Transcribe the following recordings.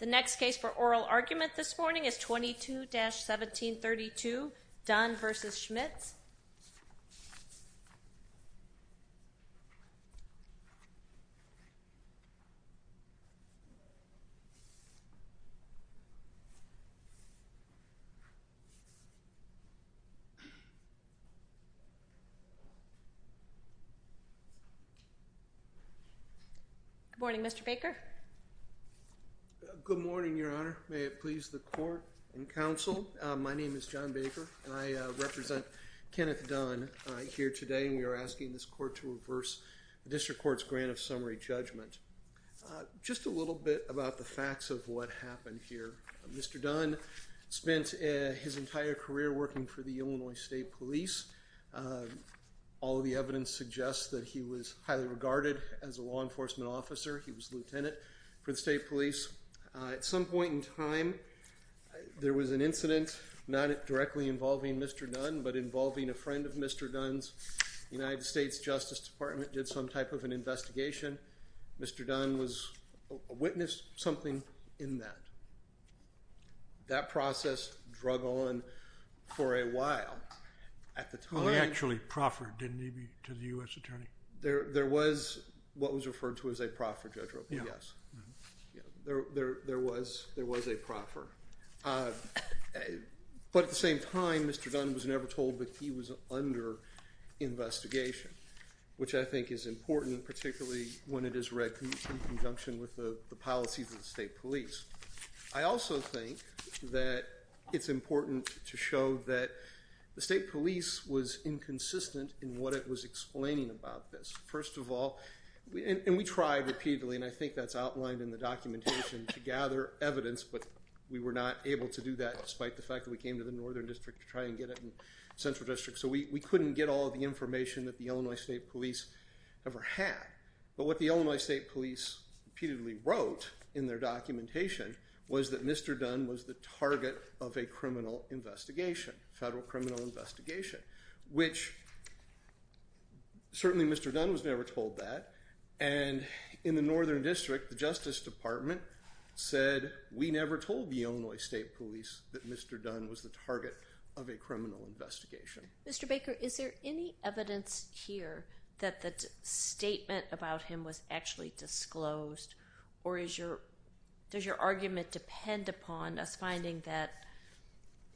The next case for oral argument this morning is 22-1732, Dunn v. Schmitz. Good morning, Mr. Baker. Good morning, Your Honor. May it please the court and counsel, my name is John Baker and I represent Kenneth Dunn here today and we are asking this court to reverse the District Court's grant of summary judgment. Just a little bit about the facts of what happened here. Mr. Dunn spent his entire career working for the Illinois State Police. All of the evidence suggests that he was highly regarded as a law enforcement officer. He was lieutenant for the State Police. At some point in time, there was an incident, not directly involving Mr. Dunn, but involving a friend of Mr. Dunn's. The United States Justice Department did some type of an investigation. Mr. Dunn witnessed something in that. That process dragged on for a while. He actually proffered, didn't he, to the U.S. Attorney? There was what was referred to as a proffer, Judge Robledo. There was a proffer. But at the same time, Mr. Dunn was never told that he was under investigation, which I think is important, particularly when it is read in conjunction with the policies of the State Police. I also think that it's important to show that the State Police was inconsistent in what it was explaining about this. First of all, and we tried repeatedly, and I think that's outlined in the documentation, to gather evidence, but we were not able to do that despite the fact that we came to the Northern District to try and get it in the Central District. So we couldn't get all of the information that the Illinois State Police ever had. But what the Illinois State Police repeatedly wrote in their documentation was that Mr. Dunn was the target of a criminal investigation, a federal criminal investigation, which certainly Mr. Dunn was never told that. And in the Northern District, the Justice Department said, we never told the Illinois State Police that Mr. Dunn was the target of a criminal investigation. Mr. Baker, is there any evidence here that the statement about him was actually disclosed, or does your argument depend upon us finding that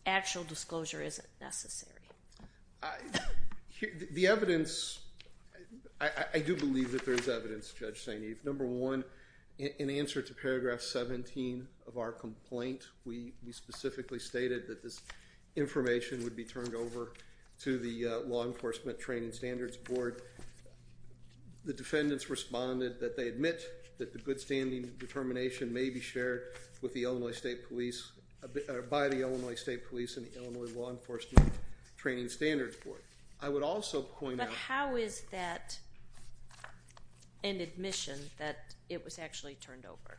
actual disclosure isn't necessary? The evidence, I do believe that there's evidence, Judge St. Eve. Number one, in answer to paragraph 17 of our complaint, we specifically stated that this information would be turned over to the Law Enforcement Training Standards Board. The defendants responded that they admit that the good standing determination may be shared with the Illinois State Police, by the Illinois State Police and the Illinois Law Enforcement Training Standards Board. I would also point out- But how is that an admission that it was actually turned over?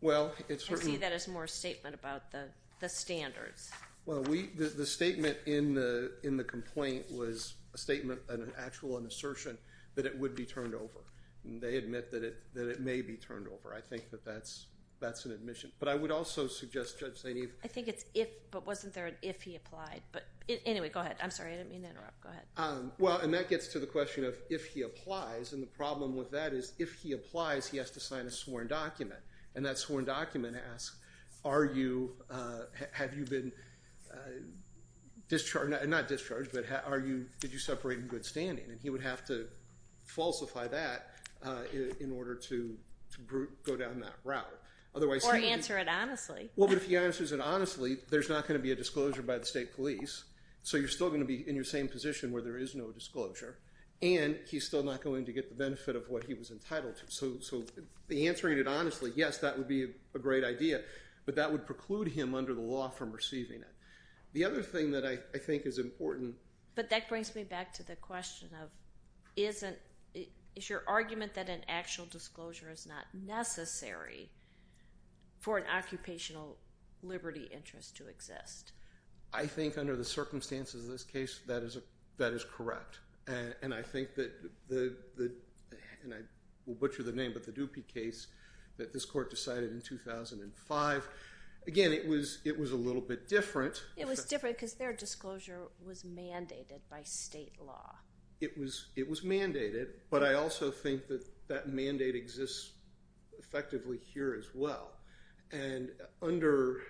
Well, it's- I see that as more a statement about the standards. Well, the statement in the complaint was a statement, an actual assertion, that it would be turned over. They admit that it may be turned over. I think that that's an admission. But I would also suggest, Judge St. Eve- I think it's if, but wasn't there an if he applied? Anyway, go ahead. I'm sorry, I didn't mean to interrupt. Go ahead. Well, and that gets to the question of if he applies. And the problem with that is if he applies, he has to sign a sworn document. And that sworn document asks, have you been discharged? Not discharged, but did you separate in good standing? And he would have to falsify that in order to go down that route. Or answer it honestly. Well, but if he answers it honestly, there's not going to be a disclosure by the state police. So you're still going to be in your same position where there is no disclosure. And he's still not going to get the benefit of what he was entitled to. So answering it honestly, yes, that would be a great idea. But that would preclude him under the law from receiving it. The other thing that I think is important- But that brings me back to the question of is your argument that an actual disclosure is not necessary for an occupational liberty interest to exist? I think under the circumstances of this case, that is correct. And I think that, and I will butcher the name, but the Dupie case that this court decided in 2005, again, it was a little bit different. It was different because their disclosure was mandated by state law. It was mandated, but I also think that that mandate exists effectively here as well. And under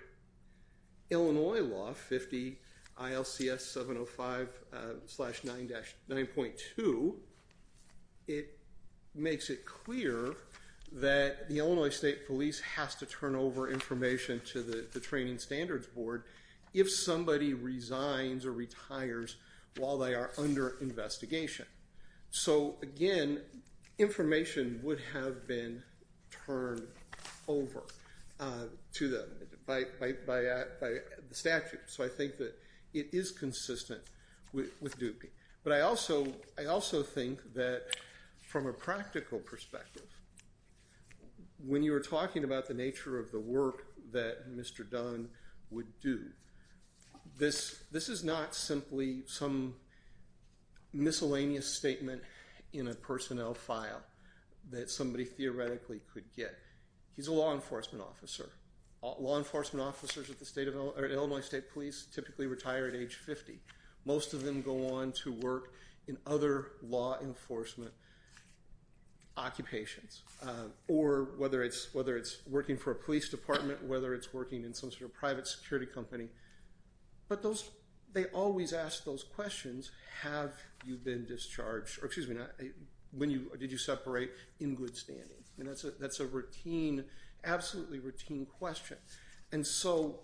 Illinois law 50 ILCS 705-9.2, it makes it clear that the Illinois State Police has to turn over information to the Training Standards Board if somebody resigns or retires while they are under investigation. So, again, information would have been turned over to them by the statute. So I think that it is consistent with Dupie. But I also think that from a practical perspective, when you are talking about the nature of the work that Mr. Dunn would do, this is not simply some miscellaneous statement in a personnel file that somebody theoretically could get. He's a law enforcement officer. Law enforcement officers at Illinois State Police typically retire at age 50. Most of them go on to work in other law enforcement occupations, or whether it's working for a police department, whether it's working in some sort of private security company. But they always ask those questions. Have you been discharged? Or, excuse me, did you separate in good standing? That's an absolutely routine question. And so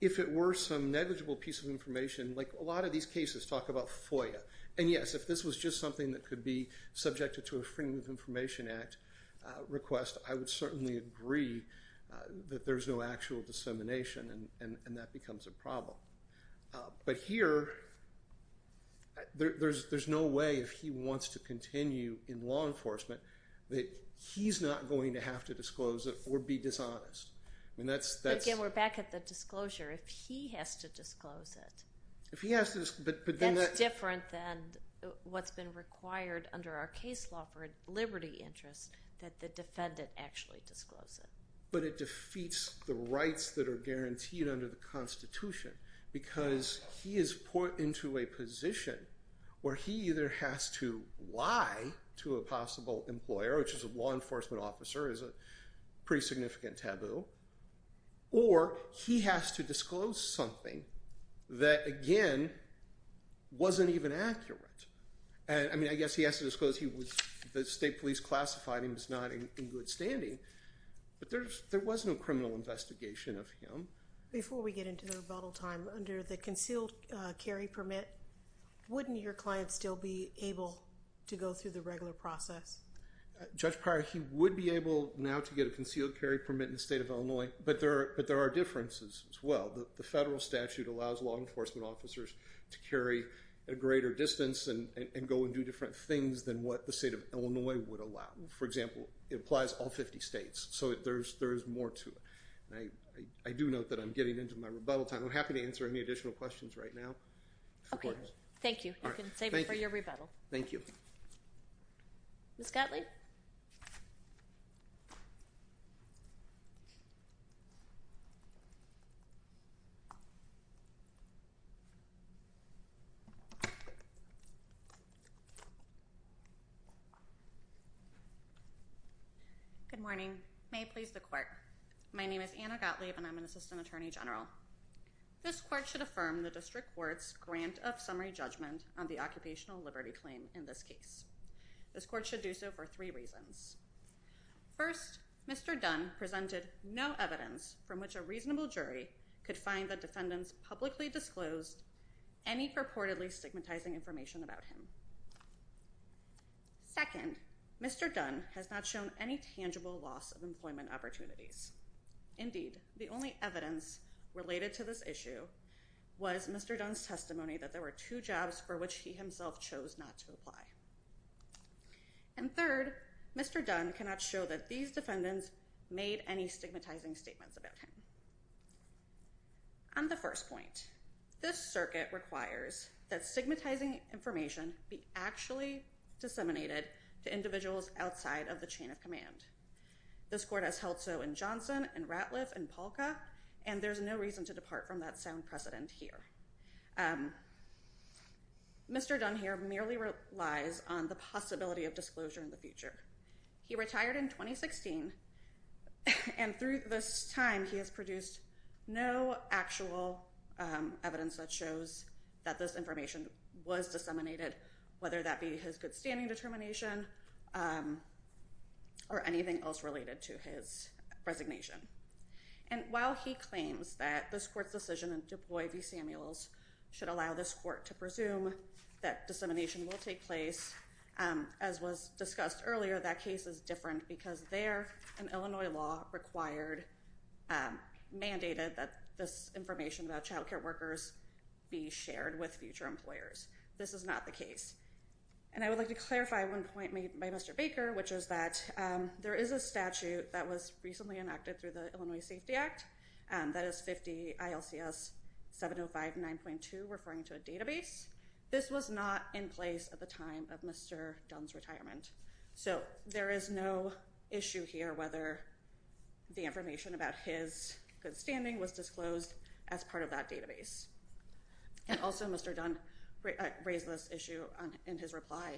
if it were some negligible piece of information, like a lot of these cases talk about FOIA. And, yes, if this was just something that could be subjected to a Freedom of Information Act request, I would certainly agree that there's no actual dissemination, and that becomes a problem. But here, there's no way if he wants to continue in law enforcement that he's not going to have to disclose it or be dishonest. Again, we're back at the disclosure. If he has to disclose it, that's different than what's been required under our case law for liberty interests that the defendant actually disclose it. But it defeats the rights that are guaranteed under the Constitution, because he is put into a position where he either has to lie to a possible employer, which as a law enforcement officer is a pretty significant taboo, or he has to disclose something that, again, wasn't even accurate. I mean, I guess he has to disclose the state police classified him as not in good standing, but there was no criminal investigation of him. Before we get into the rebuttal time, under the concealed carry permit, wouldn't your client still be able to go through the regular process? Judge Pryor, he would be able now to get a concealed carry permit in the state of Illinois, but there are differences as well. The federal statute allows law enforcement officers to carry at a greater distance and go and do different things than what the state of Illinois would allow. For example, it applies all 50 states, so there's more to it. I do note that I'm getting into my rebuttal time. I'm happy to answer any additional questions right now. Okay, thank you. You can save it for your rebuttal. Thank you. Ms. Gottlieb? Good morning. May it please the court. My name is Anna Gottlieb, and I'm an assistant attorney general. This court should affirm the district court's grant of summary judgment on the occupational liberty claim in this case. This court should do so for three reasons. First, Mr. Dunn presented no evidence from which a reasonable jury could find that defendants publicly disclosed any purportedly stigmatizing information about him. Second, Mr. Dunn has not shown any tangible loss of employment opportunities. Indeed, the only evidence related to this issue was Mr. Dunn's testimony that there were two jobs for which he himself chose not to apply. And third, Mr. Dunn cannot show that these defendants made any stigmatizing statements about him. On the first point, this circuit requires that stigmatizing information be actually disseminated to individuals outside of the chain of command. This court has held so in Johnson and Ratliff and Polka, and there's no reason to depart from that sound precedent here. Mr. Dunn here merely relies on the possibility of disclosure in the future. He retired in 2016, and through this time he has produced no actual evidence that shows that this information was disseminated, whether that be his good standing determination or anything else related to his resignation. And while he claims that this court's decision in DuPuy v. Samuels should allow this court to presume that dissemination will take place, as was discussed earlier, that case is different because there an Illinois law required, mandated, that this information about child care workers be shared with future employers. This is not the case. And I would like to clarify one point made by Mr. Baker, which is that there is a statute that was recently enacted through the Illinois Safety Act that is 50 ILCS 705 9.2 referring to a database. This was not in place at the time of Mr. Dunn's retirement. So there is no issue here whether the information about his good standing was disclosed as part of that database. And also Mr. Dunn raised this issue in his reply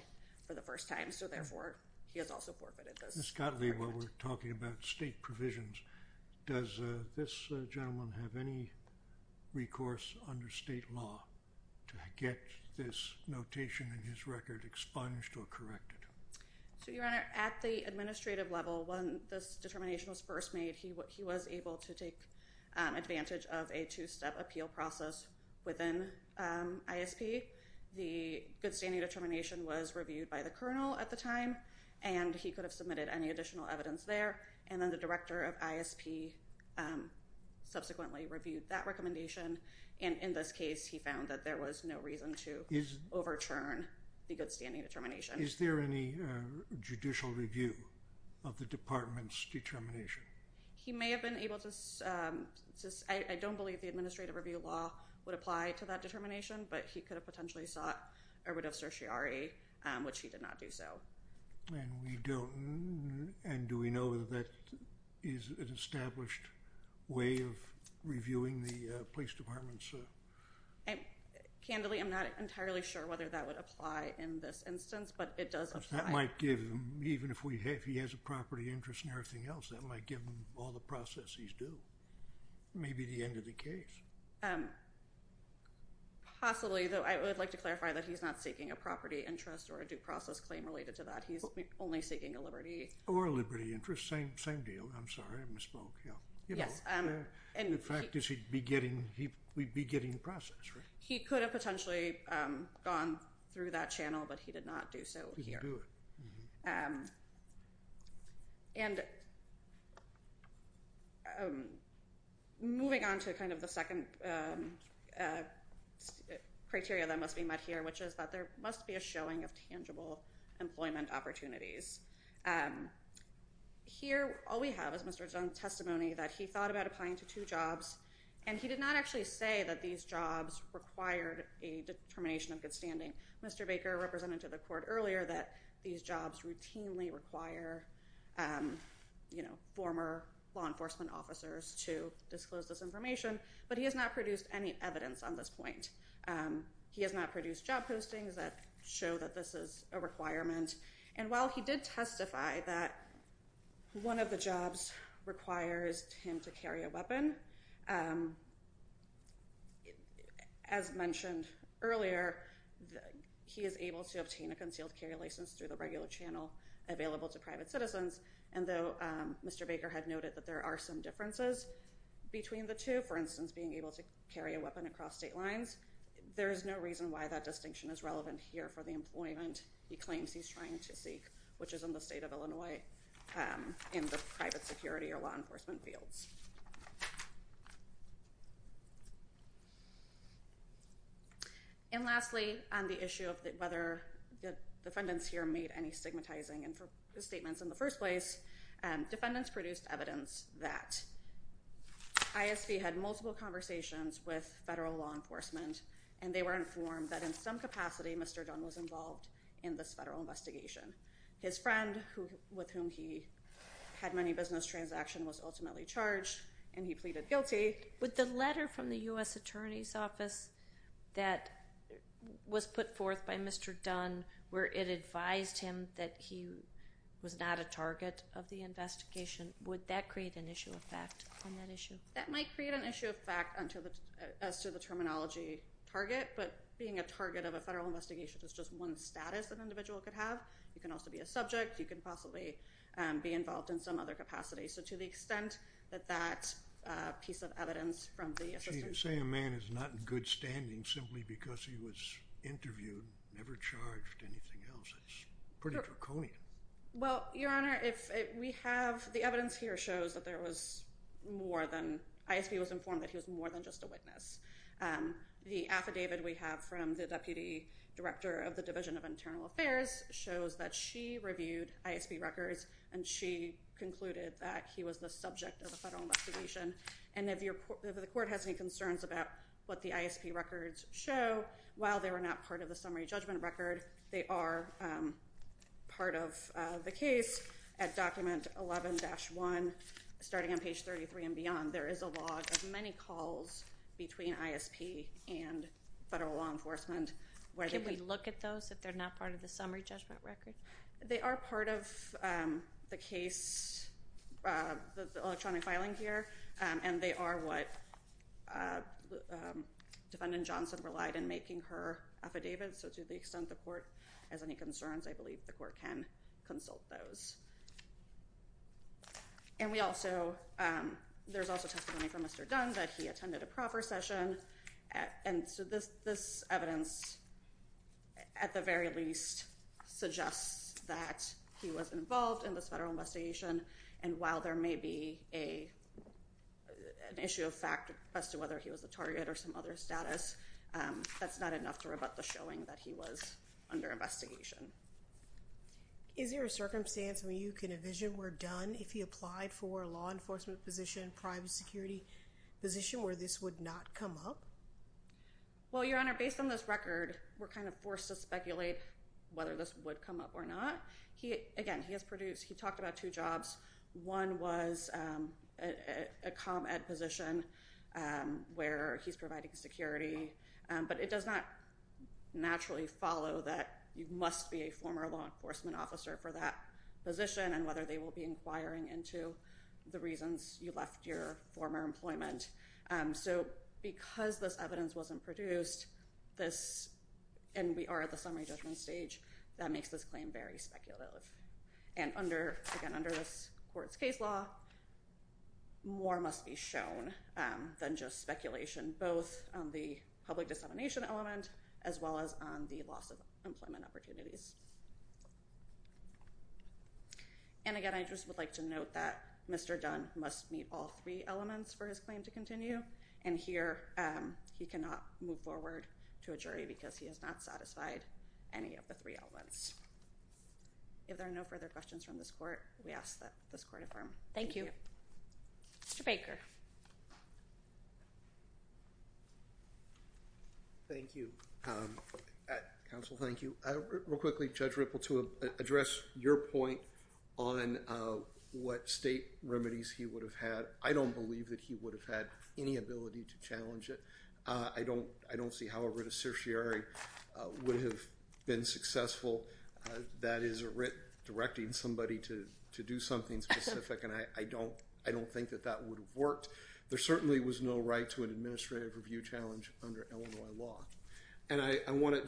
for the first time, so therefore he has also forfeited this. Ms. Gottlieb, while we're talking about state provisions, does this gentleman have any recourse under state law to get this notation in his record expunged or corrected? At the administrative level, when this determination was first made, he was able to take advantage of a two-step appeal process within ISP. The good standing determination was reviewed by the colonel at the time, and he could have submitted any additional evidence there. And then the director of ISP subsequently reviewed that recommendation. And in this case, he found that there was no reason to overturn the good standing determination. Is there any judicial review of the department's determination? He may have been able to. I don't believe the administrative review law would apply to that determination, but he could have potentially sought a writ of certiorari, which he did not do so. And we don't. And do we know that that is an established way of reviewing the police department? Candidly, I'm not entirely sure whether that would apply in this instance, but it does apply. That might give him, even if he has a property interest and everything else, that might give him all the processes due. Maybe the end of the case. Possibly, though, I would like to clarify that he's not seeking a property interest or a due process claim related to that. He's only seeking a liberty. Or a liberty interest. Same deal. I'm sorry, I misspoke. The fact is he'd be getting process. He could have potentially gone through that channel, but he did not do so here. And moving on to kind of the second criteria that must be met here, which is that there must be a showing of tangible employment opportunities. Here, all we have is Mr. Dunn's testimony that he thought about applying to two jobs, and he did not actually say that these jobs required a determination of good standing. Mr. Baker represented to the court earlier that these jobs routinely require former law enforcement officers to disclose this information. But he has not produced any evidence on this point. He has not produced job postings that show that this is a requirement. And while he did testify that one of the jobs requires him to carry a weapon, as mentioned earlier, he is able to obtain a concealed carry license through the regular channel available to private citizens. And though Mr. Baker had noted that there are some differences between the two, for instance, being able to carry a weapon across state lines, there is no reason why that distinction is relevant here for the employment he claims he's trying to seek, which is in the state of Illinois in the private security or law enforcement fields. And lastly, on the issue of whether the defendants here made any stigmatizing statements in the first place, defendants produced evidence that ISV had multiple conversations with federal law enforcement, and they were informed that in some capacity Mr. Dunn was involved in this federal investigation. His friend, with whom he had many business transactions, was ultimately charged, and he pleaded guilty. With the letter from the U.S. Attorney's Office that was put forth by Mr. Dunn, where it advised him that he was not a target of the investigation, would that create an issue of fact on that issue? That might create an issue of fact as to the terminology target, but being a target of a federal investigation is just one status an individual could have. You can also be a subject. You can possibly be involved in some other capacity. So to the extent that that piece of evidence from the assistant- She didn't say a man is not in good standing simply because he was interviewed, never charged, anything else. It's pretty draconian. Well, Your Honor, if we have- the evidence here shows that there was more than- ISV was informed that he was more than just a witness. The affidavit we have from the deputy director of the Division of Internal Affairs shows that she reviewed ISV records, and she concluded that he was the subject of a federal investigation. And if the court has any concerns about what the ISP records show, while they were not part of the summary judgment record, they are part of the case at document 11-1, starting on page 33 and beyond. There is a log of many calls between ISP and federal law enforcement where they- Can we look at those if they're not part of the summary judgment record? They are part of the case, the electronic filing here, and they are what Defendant Johnson relied in making her affidavit. So to the extent the court has any concerns, I believe the court can consult those. And we also- there's also testimony from Mr. Dunn that he attended a proffer session. And so this evidence, at the very least, suggests that he was involved in this federal investigation. And while there may be an issue of fact as to whether he was a target or some other status, that's not enough to rebut the showing that he was under investigation. Is there a circumstance where you can envision where Dunn, if he applied for a law enforcement position, private security position, where this would not come up? Well, Your Honor, based on this record, we're kind of forced to speculate whether this would come up or not. Again, he has produced- he talked about two jobs. One was a com-ed position where he's providing security. But it does not naturally follow that you must be a former law enforcement officer for that position and whether they will be inquiring into the reasons you left your former employment. So because this evidence wasn't produced, this- and we are at the summary judgment stage, that makes this claim very speculative. And under- again, under this court's case law, more must be shown than just speculation, both on the public dissemination element as well as on the loss of employment opportunities. And again, I just would like to note that Mr. Dunn must meet all three elements for his claim to continue. And here, he cannot move forward to a jury because he has not satisfied any of the three elements. If there are no further questions from this court, we ask that this court affirm. Thank you. Mr. Baker. Thank you. Counsel, thank you. Real quickly, Judge Ripple, to address your point on what state remedies he would have had, I don't believe that he would have had any ability to challenge it. I don't see how a writ of certiorari would have been successful. That is a writ directing somebody to do something specific, and I don't think that that would have worked. There certainly was no right to an administrative review challenge under Illinois law. And I want to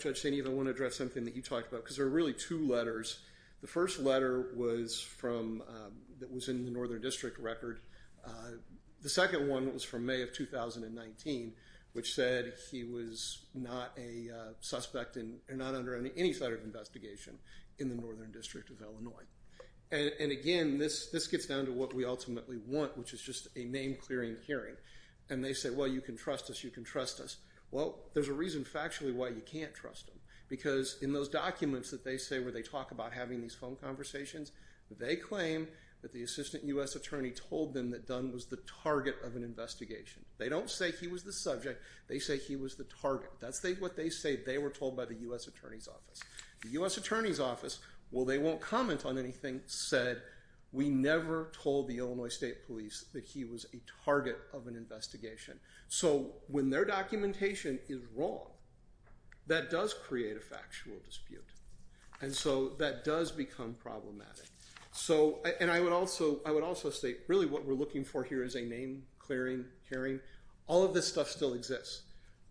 address something that you talked about because there are really two letters. The first letter was in the Northern District record. The second one was from May of 2019, which said he was not a suspect and not under any sort of investigation in the Northern District of Illinois. And again, this gets down to what we ultimately want, which is just a name-clearing hearing. And they say, well, you can trust us, you can trust us. Well, there's a reason factually why you can't trust them, because in those documents that they say where they talk about having these phone conversations, they claim that the assistant U.S. attorney told them that Dunn was the target of an investigation. They don't say he was the subject. They say he was the target. That's what they say they were told by the U.S. Attorney's Office. The U.S. Attorney's Office, while they won't comment on anything, said we never told the Illinois State Police that he was a target of an investigation. So when their documentation is wrong, that does create a factual dispute. And so that does become problematic. And I would also say really what we're looking for here is a name-clearing hearing. All of this stuff still exists.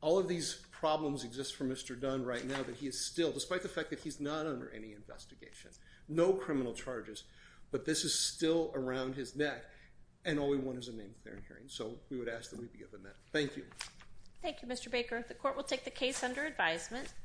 All of these problems exist for Mr. Dunn right now, but he is still, despite the fact that he's not under any investigation, no criminal charges, but this is still around his neck, and all we want is a name-clearing hearing. So we would ask that we be given that. Thank you. Thank you, Mr. Baker. The Court will take the case under advisement.